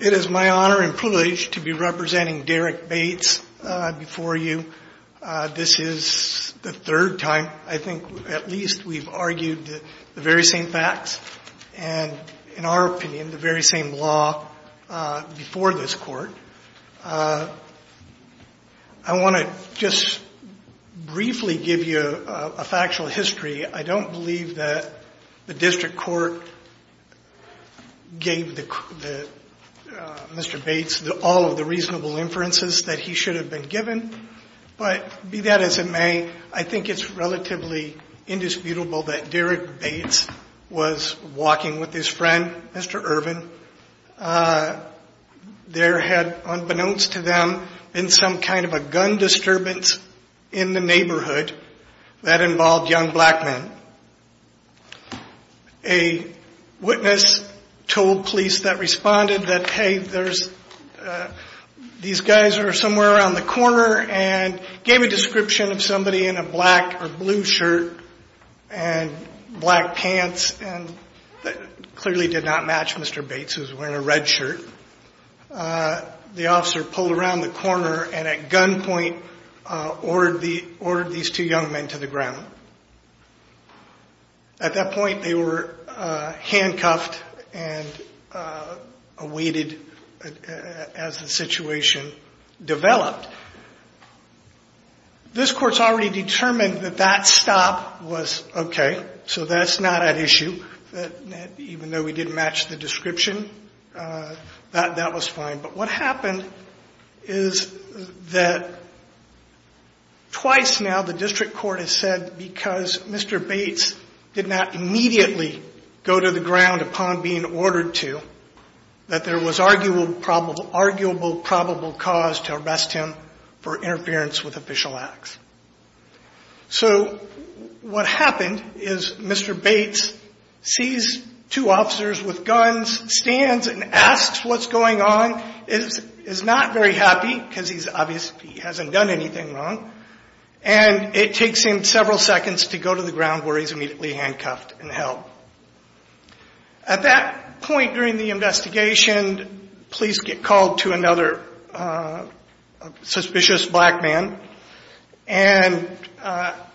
It is my honor and privilege to be representing Derrick Bates before you. This is the third time I think at least we've argued the very same facts and, in our opinion, the very same law before this Court. I want to just briefly give you a factual history. I don't believe that the District Court gave Mr. Bates all of the reasonable inferences that he should have been given, but be that as it may, I think it's relatively indisputable that Derrick Bates was given. There had, unbeknownst to them, been some kind of a gun disturbance in the neighborhood that involved young black men. A witness told police that responded that, hey, these guys are somewhere around the corner, and gave a description of somebody in a black or blue shirt and black pants, and that clearly did not match Mr. Bates was wearing a red shirt. The officer pulled around the corner and, at gunpoint, ordered these two young men to the ground. At that point, they were handcuffed and awaited as the situation developed. This Court's already determined that that stop was okay, so that's not an issue, that even though we didn't match the description, that was fine. But what happened is that twice now the District Court has said because Mr. Bates did not immediately go to the ground upon being ordered to, that there was arguable probable cause to arrest him for interference with official acts. So what happened is Mr. Bates sees two officers with guns, stands and asks what's going on, is not very happy, because he's obviously hasn't done anything wrong, and it takes him several seconds to go to the ground where he's immediately handcuffed and held. At that point during the investigation, police get called to another suspicious black man and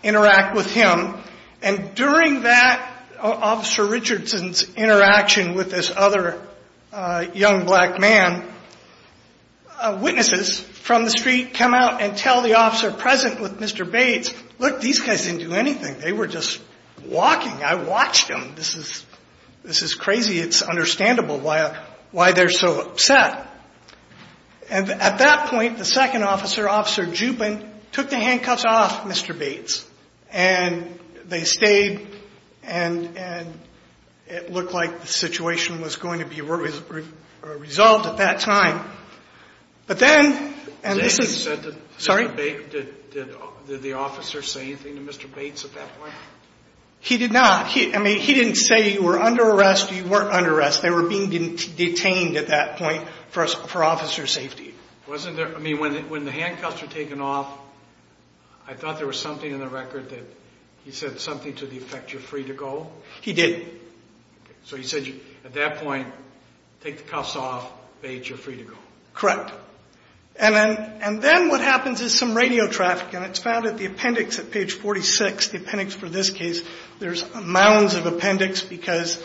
interact with him, and during that Officer Richardson's interaction with this other young black man, witnesses from the street come out and tell the officer present with Mr. Bates, look, these guys didn't do anything, they were just walking, I watched them, this is crazy, it's understandable why they're so upset. And at that point, the second officer, Officer Juppin, took the handcuffs off Mr. Bates, and they stayed, and it looked like the situation was going to be resolved at that time. But then, and this is, sorry? Did the officer say anything to Mr. Bates at that point? He did not. I mean, he didn't say you were under arrest, you weren't under arrest, they were being detained at that point for officer safety. Wasn't there, I mean, when the handcuffs were taken off, I thought there was something in the record that he said something to the effect you're free to go? He didn't. So he said at that point, take the cuffs off, Bates, you're free to go. Correct. And then what happens is some radio traffic, and it's found at the appendix at page 46, the appendix for this case, there's mounds of appendix because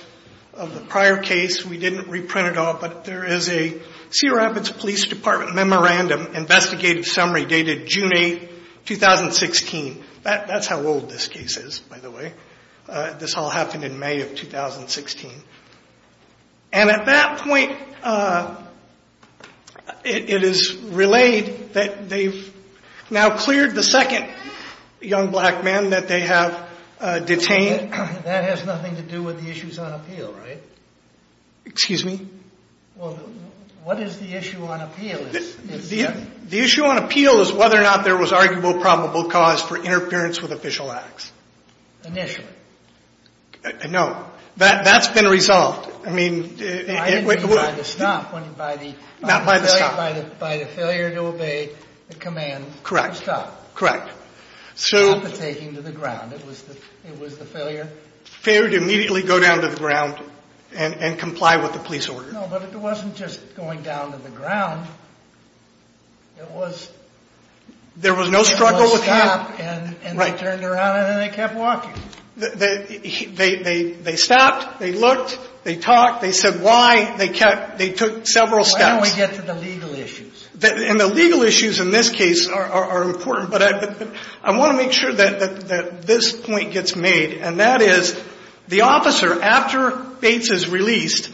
of the prior case, we didn't reprint it all, but there is a Sierra Rapids Police Department memorandum investigative summary dated June 8, 2016. That's how old this case is, by the way. This all happened in May of 2016. And at that point, it is relayed that they've now cleared the second young black man that they have detained. That has nothing to do with the issues on appeal, right? Excuse me? Well, what is the issue on appeal? The issue on appeal is whether or not there was arguable probable cause for interference with official acts. Initially? No. That's been resolved. I didn't mean by the stop. Not by the stop. By the failure to obey the command to stop. Correct. Not the taking to the ground. It was the failure? Failure to immediately go down to the ground and comply with the police order. No, but it wasn't just going down to the ground. It was... There was no struggle with him. They stopped and they turned around and they kept walking. They stopped. They looked. They talked. They said why. They took several steps. Why don't we get to the legal issues? And the legal issues in this case are important, but I want to make sure that this point gets made. And that is, the officer, after Bates is released,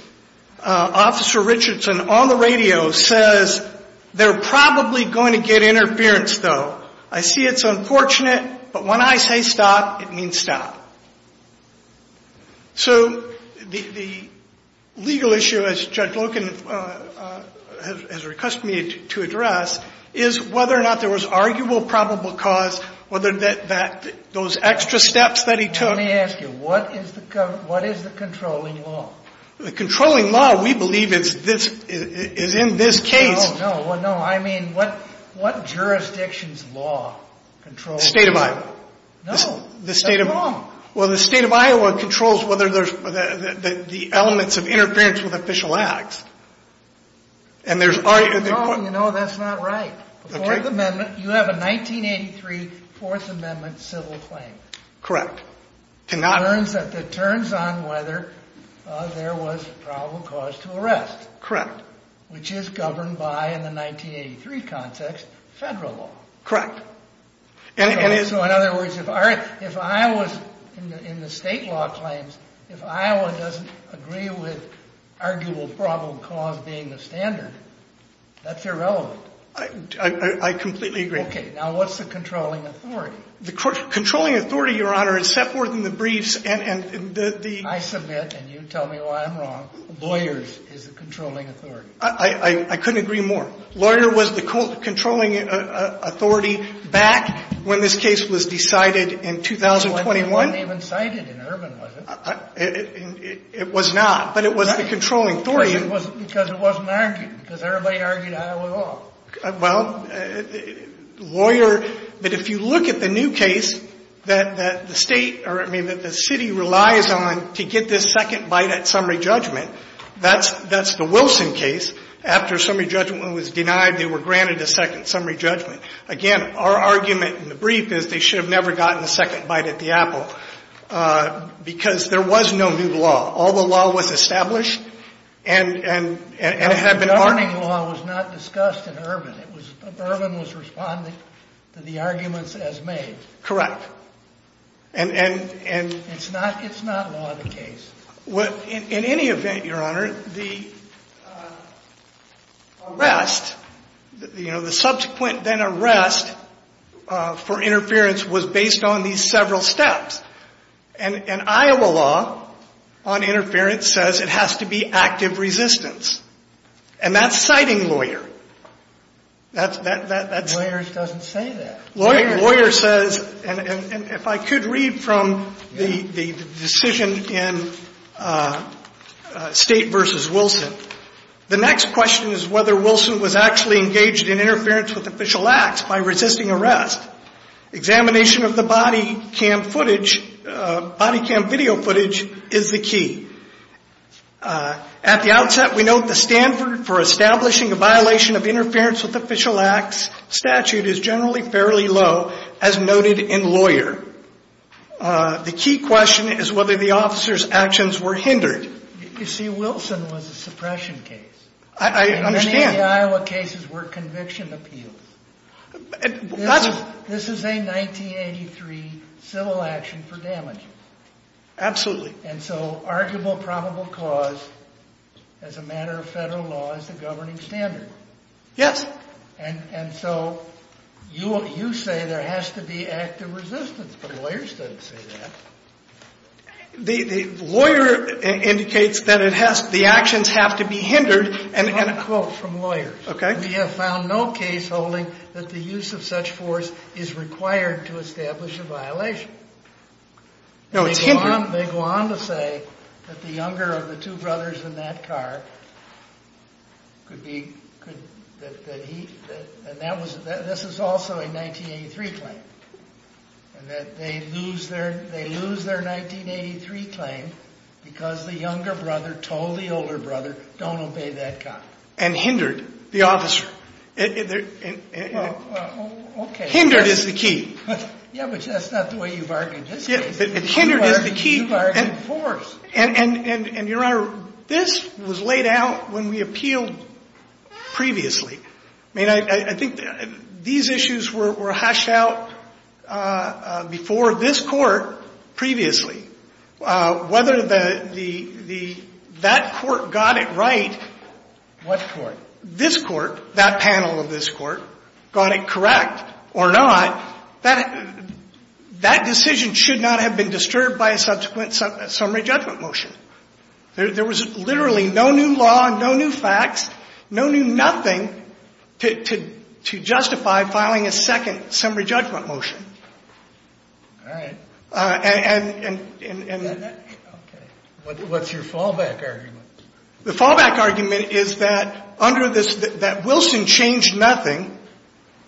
Officer Richardson on the radio says, they're probably going to get interference, though. I see it's unfortunate, but when I say stop, it means stop. So the legal issue, as Judge Loken has recused me to address, is whether or not there was arguable probable cause, whether those extra steps that he took... Let me ask you, what is the controlling law? The controlling law, we believe, is in this case... No, no. I mean, what jurisdiction's law controls... The state of Iowa. No, that's wrong. Well, the state of Iowa controls whether there's the elements of interference with official acts. And there's... No, you know, that's not right. The Fourth Amendment, you have a 1983 Fourth Amendment civil claim. Correct. It turns on whether there was probable cause to arrest. Correct. Which is governed by, in the 1983 context, federal law. Correct. So in other words, if Iowa's, in the state law claims, if Iowa doesn't agree with arguable probable cause being the standard, that's irrelevant. I completely agree. Okay, now what's the controlling authority? The controlling authority, Your Honor, is set forth in the briefs and the... I submit, and you tell me why I'm wrong, lawyers is the controlling authority. I couldn't agree more. Lawyer was the controlling authority back when this case was decided in 2021. It wasn't even cited in Urban, was it? It was not, but it was the controlling authority. Because it wasn't argued, because everybody argued Iowa law. Well, lawyer, but if you look at the new case that the state, or I mean that the city relies on to get this second bite at summary judgment, that's the Wilson case. After summary judgment was denied, they were granted a second summary judgment. Again, our argument in the brief is they should have never gotten the second bite at the apple, because there was no new law. All the law was established and had been argued. But summary law was not discussed in Urban. Urban was responding to the arguments as made. Correct. And... It's not law of the case. In any event, Your Honor, the arrest, you know, the subsequent then arrest for interference was based on these several steps. And Iowa law on interference says it has to be active resistance. And that's citing lawyer. That's... Lawyers doesn't say that. Lawyer says, and if I could read from the decision in State v. Wilson. The next question is whether Wilson was actually engaged in interference with official acts by resisting arrest. Examination of the body cam footage, body cam video footage, is the key. At the outset, we note the Stanford for establishing a violation of interference with official acts statute is generally fairly low, as noted in lawyer. The key question is whether the officer's actions were hindered. You see, Wilson was a suppression case. I understand. Many of the Iowa cases were conviction appeals. That's... This is a 1983 civil action for damage. Absolutely. And so, arguable probable cause as a matter of federal law is the governing standard. Yes. And so, you say there has to be active resistance. But lawyers don't say that. The lawyer indicates that it has... The actions have to be hindered. I have a quote from lawyers. Okay. We have found no case holding that the use of such force is required to establish a violation. No, it's hindered. They go on to say that the younger of the two brothers in that car could be... That he... And that was... This is also a 1983 claim. And that they lose their... They lose their 1983 claim because the younger brother told the older brother, don't obey that cop. And hindered the officer. Well, okay. Hindered is the key. Yeah, but that's not the way you bargained this case. But hindered is the key. You bargained force. And, Your Honor, this was laid out when we appealed previously. I mean, I think these issues were hashed out before this court previously. Whether that court got it right... What court? This court, that panel of this court, got it correct or not, that decision should not have been disturbed by a subsequent summary judgment motion. There was literally no new law, no new facts, no new nothing to justify filing a second summary judgment motion. All right. And... Okay. What's your fallback argument? The fallback argument is that under this, that Wilson changed nothing.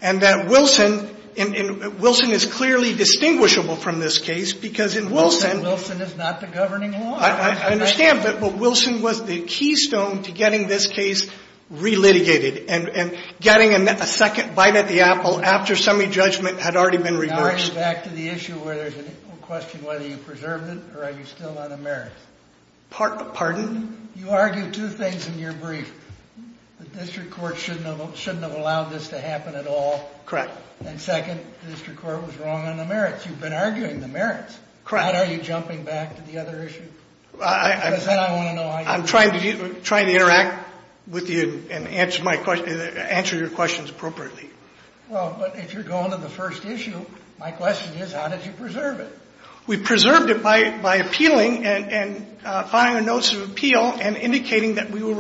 And that Wilson is clearly distinguishable from this case because in Wilson... Wilson is not the governing law. I understand. But Wilson was the keystone to getting this case re-litigated. And getting a second bite at the apple after summary judgment had already been reversed. Now you're back to the issue where there's a question whether you preserved it or are you still on a merit. Pardon? You argued two things in your brief. The district court shouldn't have allowed this to happen at all. Correct. And second, the district court was wrong on the merits. You've been arguing the merits. Correct. How are you jumping back to the other issue? Because then I want to know how you... I'm trying to interact with you and answer your questions appropriately. Well, but if you're going to the first issue, my question is how did you preserve it? We preserved it by appealing and filing a notice of appeal and indicating that we were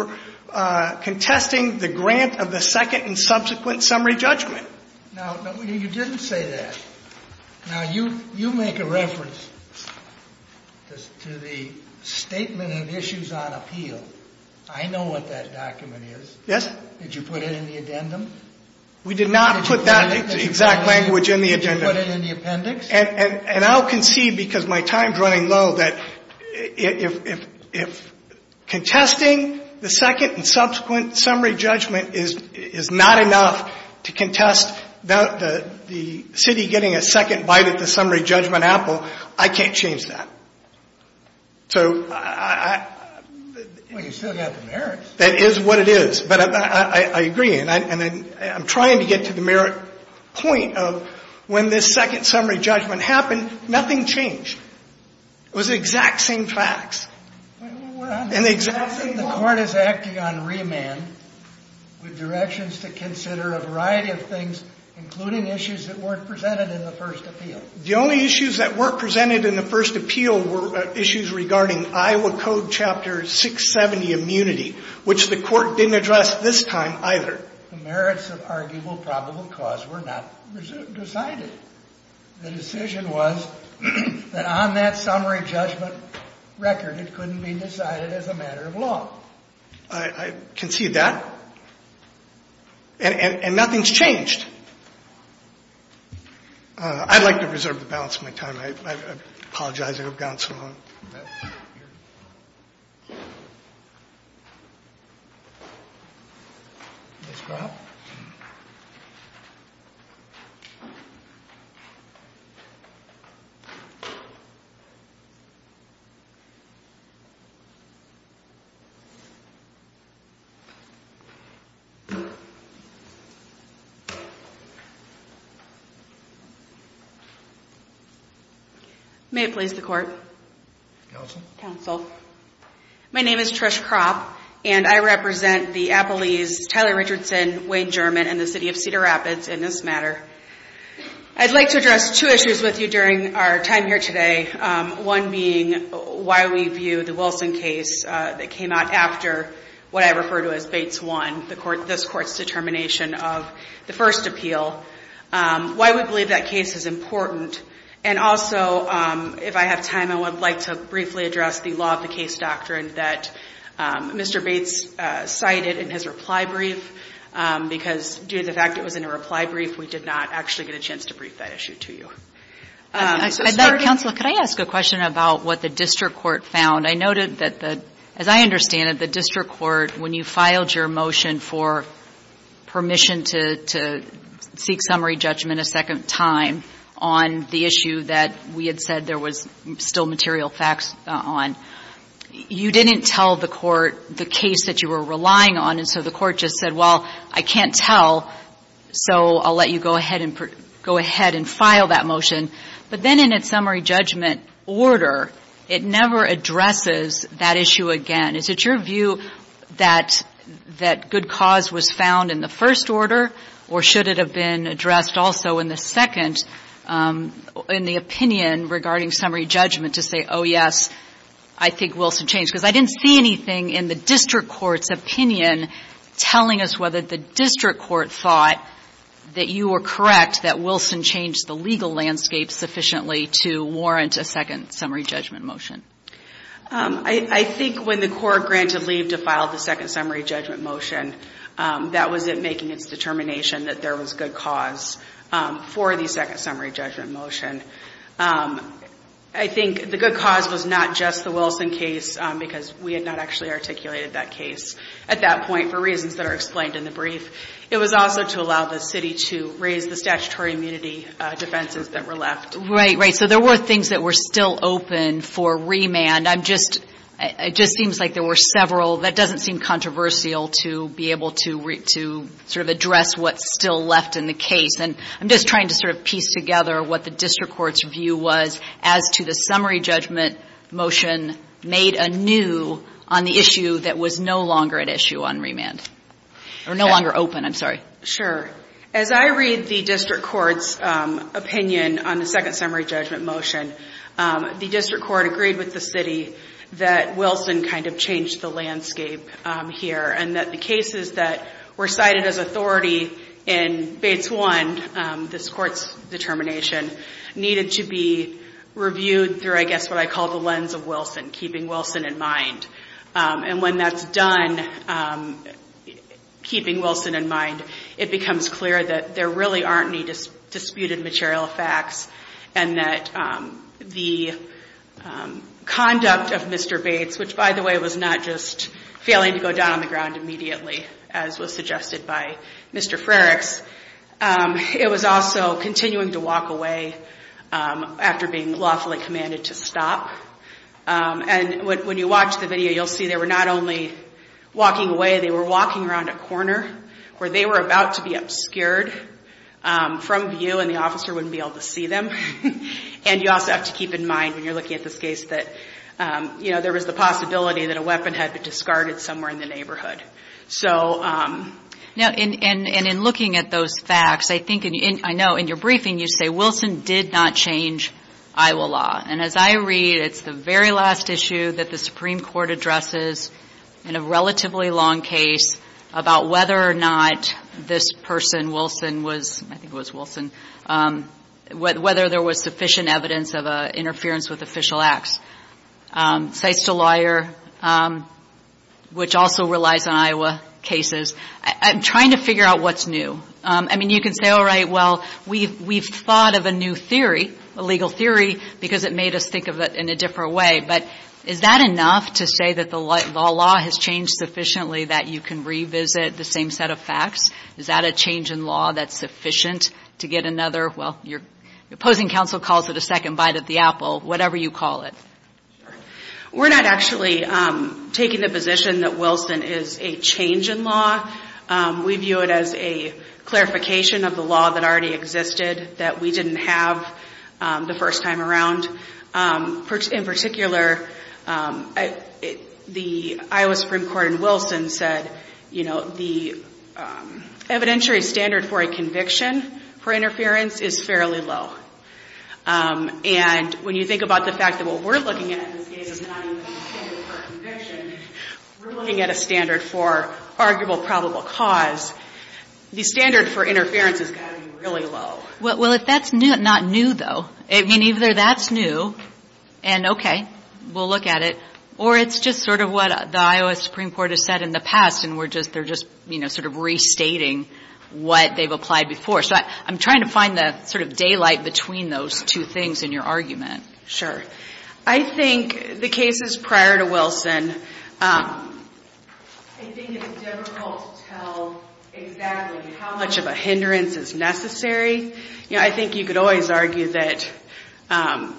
contesting the grant of the second and subsequent summary judgment. Now, you didn't say that. Now, you make a reference to the statement of issues on appeal. I know what that document is. Yes. Did you put it in the addendum? We did not put that exact language in the addendum. Did you put it in the appendix? And I'll concede, because my time's running low, that if contesting the second and subsequent summary judgment is not enough to contest the city getting a second bite at the summary judgment apple, I can't change that. So I... Well, you said that at the merits. That is what it is. But I agree, and I'm trying to get to the merit point of when this second summary judgment happened, nothing changed. It was the exact same facts. And the exact same... I think the Court is acting on remand with directions to consider a variety of things, including issues that weren't presented in the first appeal. The only issues that weren't presented in the first appeal were issues regarding Iowa Code Chapter 670 immunity, which the Court didn't address this time either. The merits of arguable probable cause were not decided. The decision was that on that summary judgment record, it couldn't be decided as a matter of law. I concede that. And nothing's changed. I'd like to reserve the balance of my time. I apologize. I have gone so long. May it please the Court. Counsel? Counsel. My name is Trish Kropp, and I represent the Appalese, Tyler Richardson, Wayne German, and the City of Cedar Rapids in this matter. I'd like to address two issues with you during our time here today, one being why we view the Wilson case that came out after what I refer to as Bates I, this Court's determination of the first appeal. Why we believe that case is important. And also, if I have time, I would like to briefly address the law of the case doctrine that Mr. Bates cited in his reply brief, because due to the fact it was in a reply brief, we did not actually get a chance to brief that issue to you. Counsel, could I ask a question about what the district court found? I noted that, as I understand it, the district court, when you filed your motion for permission to seek summary judgment a second time on the issue that we had said there was still material facts on, you didn't tell the court the case that you were relying on. And so the court just said, well, I can't tell, so I'll let you go ahead and file that motion. But then in its summary judgment order, it never addresses that issue again. Is it your view that good cause was found in the first order, or should it have been addressed also in the second, in the opinion regarding summary judgment, to say, oh, yes, I think Wilson changed? Because I didn't see anything in the district court's opinion telling us whether the district court thought that you were correct, that Wilson changed the legal landscape sufficiently to warrant a second summary judgment motion. I think when the court granted leave to file the second summary judgment motion, that was it making its determination that there was good cause for the second summary judgment motion. I think the good cause was not just the Wilson case, because we had not actually articulated that case at that point for reasons that are explained in the brief. It was also to allow the city to raise the statutory immunity defenses that were left. Right, right. So there were things that were still open for remand. It just seems like there were several. That doesn't seem controversial to be able to sort of address what's still left in the case. And I'm just trying to sort of piece together what the district court's view was as to the summary judgment motion made anew on the issue that was no longer at issue on remand, or no longer open. I'm sorry. Sure. As I read the district court's opinion on the second summary judgment motion, the district court agreed with the city that Wilson kind of changed the landscape here, and that the cases that were cited as authority in Bates 1, this court's determination, needed to be reviewed through, I guess, what I call the lens of Wilson, keeping Wilson in mind. And when that's done, keeping Wilson in mind, it becomes clear that there really aren't any disputed material facts, and that the conduct of Mr. Bates, which, by the way, was not just failing to go down on the ground immediately, as was suggested by Mr. Frerichs, it was also continuing to walk away after being lawfully commanded to stop. And when you watch the video, you'll see they were not only walking away, they were walking around a corner where they were about to be obscured from view, and the officer wouldn't be able to see them. And you also have to keep in mind, when you're looking at this case, that there was the possibility that a weapon had been discarded somewhere in the neighborhood. And in looking at those facts, I know in your briefing you say, Wilson did not change Iowa law. And as I read, it's the very last issue that the Supreme Court addresses in a relatively long case about whether or not this person, Wilson, I think it was Wilson, whether there was sufficient evidence of interference with official acts. Sites to Lawyer, which also relies on Iowa cases. I'm trying to figure out what's new. I mean, you can say, all right, well, we've thought of a new theory, a legal theory, because it made us think of it in a different way. But is that enough to say that the law has changed sufficiently that you can revisit the same set of facts? Is that a change in law that's sufficient to get another, well, you're opposing counsel calls it a second bite at the apple, whatever you call it? We're not actually taking the position that Wilson is a change in law. We view it as a clarification of the law that already existed that we didn't have the first time around. In particular, the Iowa Supreme Court in Wilson said, you know, the evidentiary standard for a conviction for interference is fairly low. And when you think about the fact that what we're looking at in this case is not even a standard for a conviction, we're looking at a standard for arguable probable cause. The standard for interference has got to be really low. Well, if that's not new, though. I mean, either that's new, and okay, we'll look at it, or it's just sort of what the Iowa Supreme Court has said in the past, and they're just sort of restating what they've applied before. So I'm trying to find the sort of daylight between those two things in your argument. Sure. I think the cases prior to Wilson, I think it's difficult to tell exactly how much of a hindrance is necessary. You know, I think you could always argue that,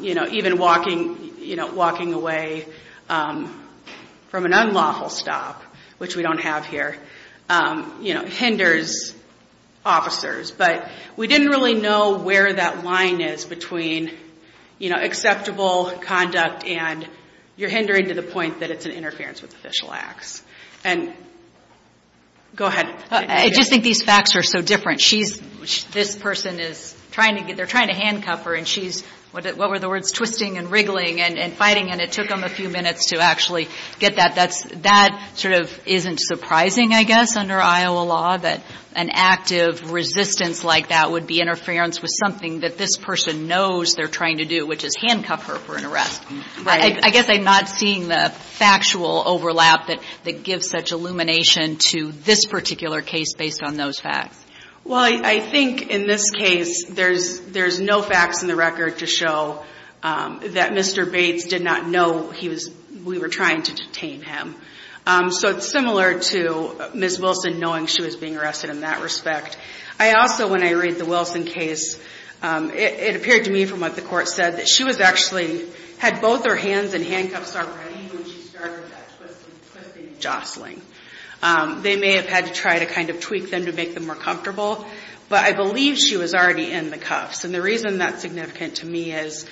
you know, even walking away from an unlawful stop, which we don't have here, you know, hinders officers. But we didn't really know where that line is between, you know, acceptable conduct and you're hindering to the point that it's an interference with official acts. And go ahead. I just think these facts are so different. She's, this person is trying to get, they're trying to handcuff her, and she's, what were the words, twisting and wriggling and fighting, and it took them a few minutes to actually get that. That sort of isn't surprising, I guess, under Iowa law, that an active resistance like that would be interference with something that this person knows they're trying to do, which is handcuff her for an arrest. Right. I guess I'm not seeing the factual overlap that gives such illumination to this particular case based on those facts. Well, I think in this case there's no facts in the record to show that Mr. Bates did not know he was, we were trying to detain him. So it's similar to Ms. Wilson knowing she was being arrested in that respect. I also, when I read the Wilson case, it appeared to me from what the court said that she was actually, had both her hands in handcuffs already when she started that twisting and jostling. They may have had to try to kind of tweak them to make them more comfortable, but I believe she was already in the cuffs, and the reason that's significant to me is,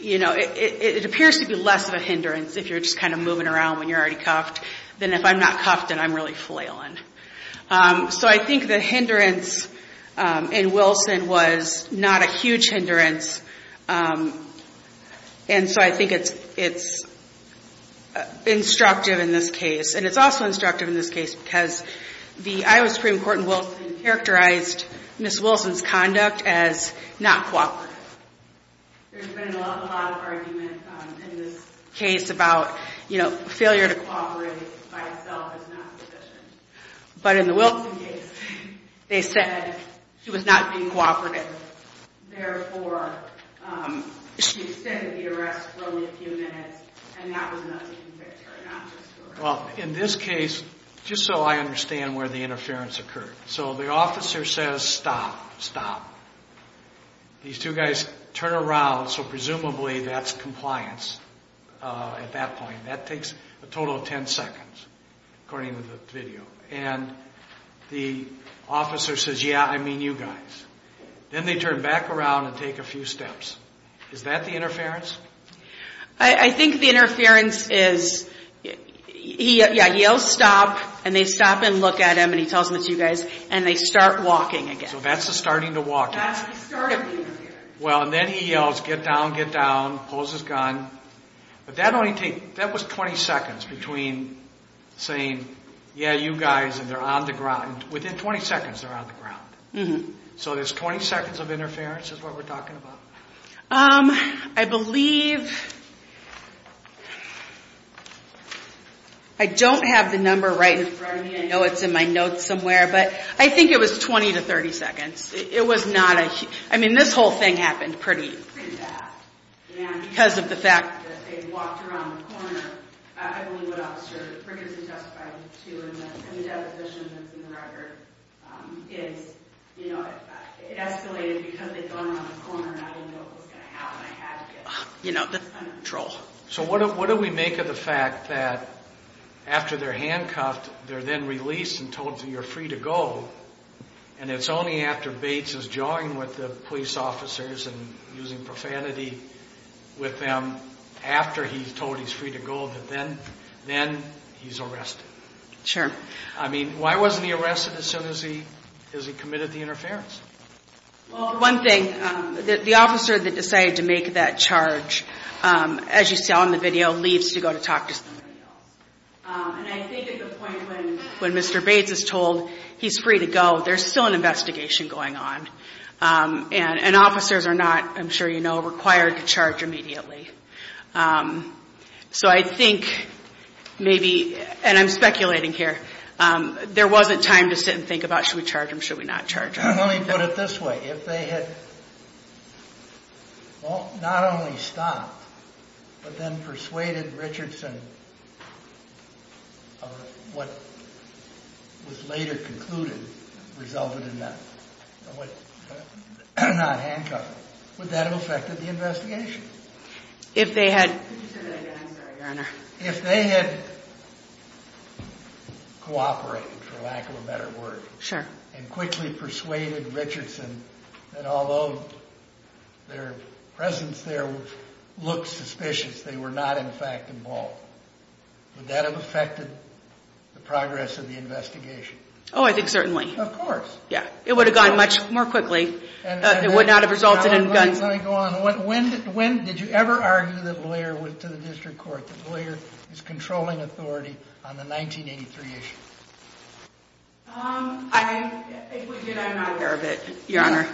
you know, it appears to be less of a hindrance if you're just kind of moving around when you're already cuffed than if I'm not cuffed and I'm really flailing. So I think the hindrance in Wilson was not a huge hindrance, and so I think it's instructive in this case, and it's also instructive in this case because the Iowa Supreme Court in Wilson characterized Ms. Wilson's conduct as not cooperative. There's been a lot of argument in this case about, you know, failure to cooperate by itself is not sufficient, but in the Wilson case they said she was not being cooperative. Therefore, she extended the arrest for only a few minutes, and that was not to convict her, not just to arrest her. Well, in this case, just so I understand where the interference occurred, so the officer says, stop, stop. These two guys turn around, so presumably that's compliance at that point. That takes a total of 10 seconds, according to the video, and the officer says, yeah, I mean you guys. Then they turn back around and take a few steps. Is that the interference? I think the interference is, yeah, he yells stop, and they stop and look at him, and he tells them it's you guys, and they start walking again. So that's the starting the walking. That's the start of the interference. Well, and then he yells, get down, get down, pulls his gun, but that only takes, that was 20 seconds between saying, yeah, you guys, and they're on the ground. Within 20 seconds they're on the ground. So there's 20 seconds of interference is what we're talking about. I believe, I don't have the number right in front of me. I know it's in my notes somewhere, but I think it was 20 to 30 seconds. It was not a, I mean this whole thing happened pretty fast, and because of the fact that they walked around the corner, I believe what Officer Rickardson testified to in the deposition that's in the record is, you know, it escalated because they'd gone around the corner, and I didn't know what was going to happen. I had to get under control. So what do we make of the fact that after they're handcuffed, they're then released and told that you're free to go, and it's only after Bates is joined with the police officers and using profanity with them, after he's told he's free to go, that then he's arrested? Sure. I mean, why wasn't he arrested as soon as he committed the interference? Well, one thing, the officer that decided to make that charge, as you saw in the video, leaves to go to talk to somebody else. And I think at the point when Mr. Bates is told he's free to go, there's still an investigation going on, and officers are not, I'm sure you know, required to charge immediately. So I think maybe, and I'm speculating here, there wasn't time to sit and think about should we charge him, should we not charge him. Let me put it this way. If they had not only stopped, but then persuaded Richardson of what was later concluded, resulted in not handcuffing him, would that have affected the investigation? Could you say that again? I'm sorry, Your Honor. If they had cooperated, for lack of a better word, and quickly persuaded Richardson that although their presence there looked suspicious, they were not in fact involved, would that have affected the progress of the investigation? Oh, I think certainly. Of course. Yeah, it would have gone much more quickly. It would not have resulted in guns. Let me go on. When did you ever argue that Blair went to the district court, that Blair is controlling authority on the 1983 issue? If we did, I'm not aware of it, Your Honor.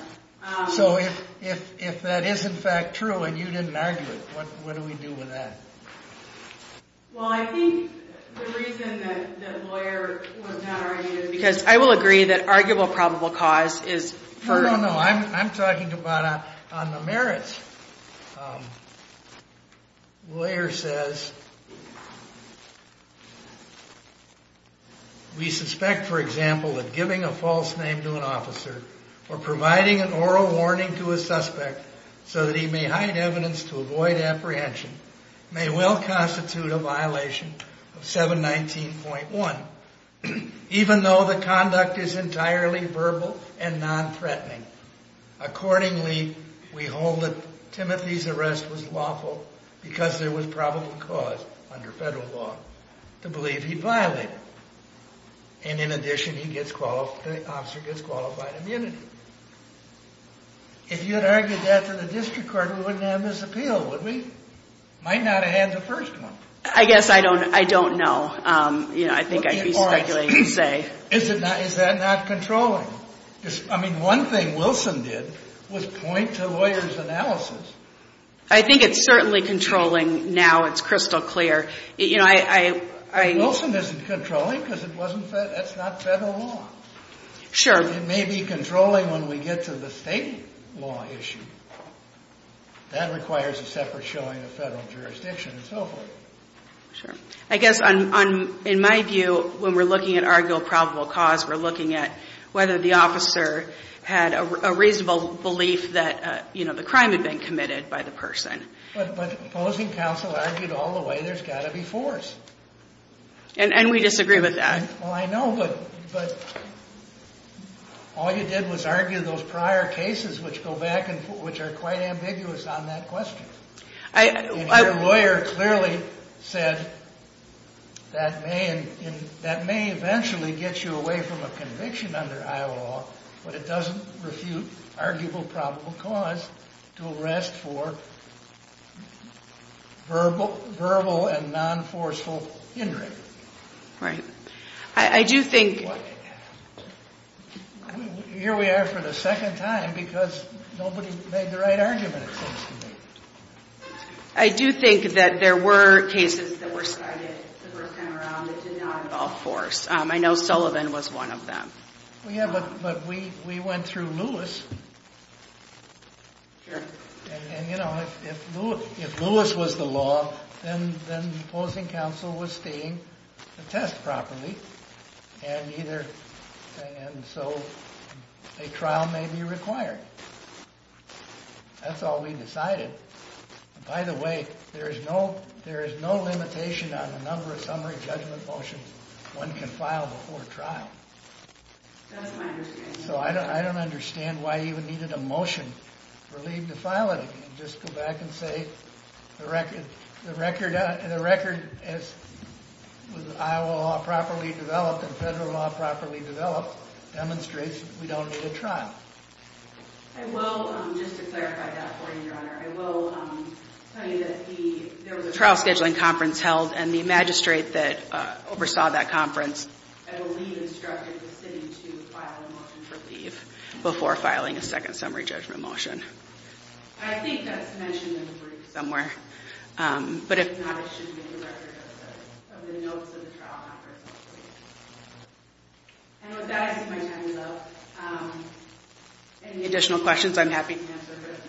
So if that is in fact true and you didn't argue it, what do we do with that? Well, I think the reason that Blair was not argued is because I will agree that arguable probable cause is for— No, no, no. I'm talking about on the merits. Blair says, We suspect, for example, that giving a false name to an officer or providing an oral warning to a suspect so that he may hide evidence to avoid apprehension may well constitute a violation of 719.1, even though the conduct is entirely verbal and non-threatening. Accordingly, we hold that Timothy's arrest was lawful because there was probable cause under federal law to believe he violated it. And in addition, the officer gets qualified immunity. If you had argued that to the district court, we wouldn't have this appeal, would we? Might not have had the first one. I guess I don't know. You know, I think I'd be speculating and say— All right. Is that not controlling? I mean, one thing Wilson did was point to lawyers' analysis. I think it's certainly controlling now. It's crystal clear. You know, I— Wilson isn't controlling because that's not federal law. Sure. But it may be controlling when we get to the state law issue. That requires a separate showing of federal jurisdiction and so forth. Sure. I guess in my view, when we're looking at arguable probable cause, we're looking at whether the officer had a reasonable belief that, you know, the crime had been committed by the person. But opposing counsel argued all the way there's got to be force. And we disagree with that. Well, I know, but all you did was argue those prior cases which go back and which are quite ambiguous on that question. Your lawyer clearly said that may eventually get you away from a conviction under Iowa law, but it doesn't refute arguable probable cause to arrest for verbal and non-forceful injury. Right. I do think— Here we are for the second time because nobody made the right argument, it seems to me. I do think that there were cases that were cited the first time around that did not involve force. I know Sullivan was one of them. Yeah, but we went through Lewis. Sure. And, you know, if Lewis was the law, then opposing counsel was seeing the test properly, and so a trial may be required. That's all we decided. By the way, there is no limitation on the number of summary judgment motions one can file before trial. That's my understanding. So I don't understand why you even needed a motion for leave to file it. Just go back and say the record as Iowa law properly developed and federal law properly developed demonstrates we don't need a trial. I will, just to clarify that for you, Your Honor, I will tell you that there was a trial scheduling conference held and the magistrate that oversaw that conference I believe instructed the city to file a motion for leave before filing a second summary judgment motion. I think that's mentioned in the brief somewhere. But if not, it should be in the record of the notes of the trial conference. And with that, I think my time is up. Any additional questions, I'm happy to answer, but if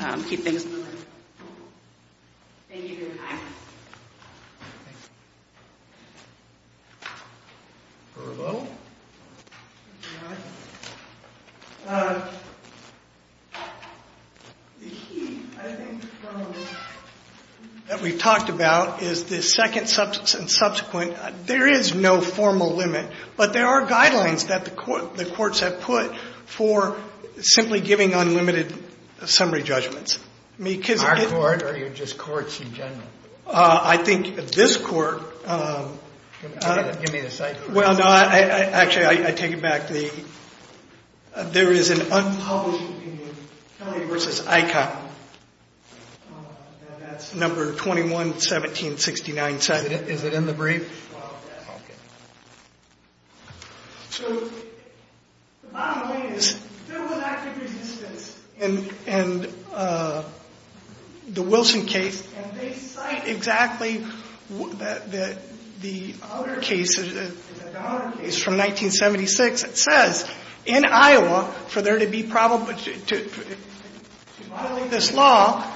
not, I'll keep things moving. Thank you, Your Honor. Verbo? The key, I think, that we've talked about is the second and subsequent. There is no formal limit, but there are guidelines that the courts have put for simply giving unlimited summary judgments. Our court or just courts in general? I think this court, well, no, actually, I take it back. There is an unpublished opinion, Kelly v. Icahn. That's number 21-1769. Is it in the brief? Okay. So the bottom line is there was active resistance in the Wilson case, and they cite exactly the other case, the Donner case from 1976. It says, in Iowa, for there to be probable to violate this law,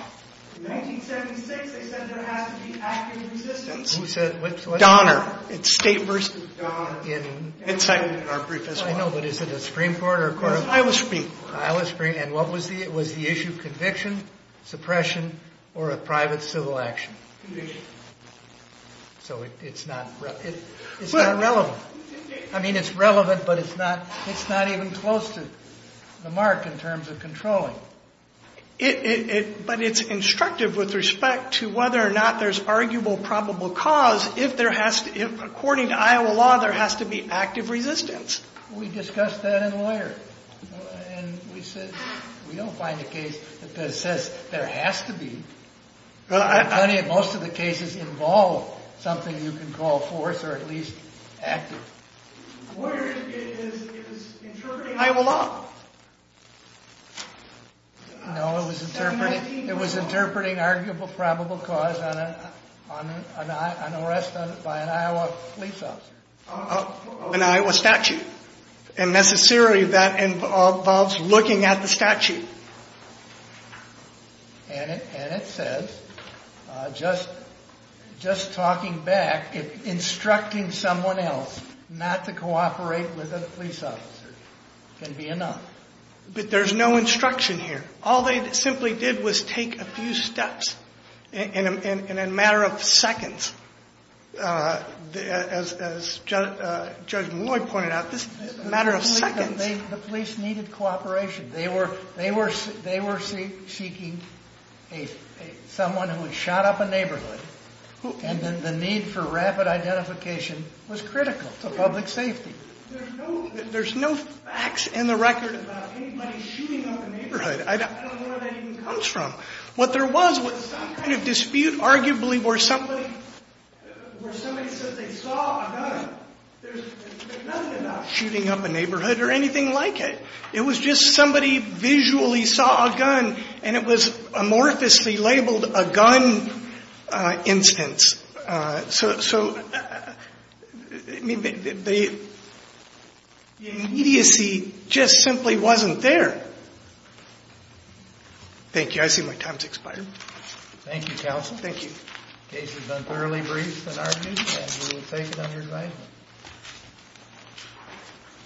in 1976 they said there has to be active resistance. Who said which? Donner. It's State v. Donner. It's cited in our brief as well. I know, but is it a Supreme Court or a court of law? Iowa Supreme Court. Iowa Supreme. And what was the issue? Conviction, suppression, or a private civil action? Conviction. So it's not relevant. I mean, it's relevant, but it's not even close to the mark in terms of controlling. But it's instructive with respect to whether or not there's arguable probable cause if, according to Iowa law, there has to be active resistance. We discussed that in lawyer. And we said we don't find a case that says there has to be. Most of the cases involve something you can call force or at least active. Where is interpreting Iowa law? No, it was interpreting arguable probable cause on arrest by an Iowa police officer. An Iowa statute. And necessarily that involves looking at the statute. And it says, just talking back, instructing someone else not to cooperate with a police officer can be enough. But there's no instruction here. All they simply did was take a few steps in a matter of seconds. As Judge Lloyd pointed out, this is a matter of seconds. The police needed cooperation. They were seeking someone who had shot up a neighborhood. And then the need for rapid identification was critical to public safety. There's no facts in the record about anybody shooting up a neighborhood. I don't know where that even comes from. What there was was some kind of dispute, arguably, where somebody said they saw a gunner. There's nothing about shooting up a neighborhood or anything like it. It was just somebody visually saw a gun, and it was amorphously labeled a gun instance. So, I mean, the immediacy just simply wasn't there. Thank you. I see my time's expired. Thank you, counsel. Thank you. The case has been thoroughly briefed and argued, and we will take it under advisement. Thank you.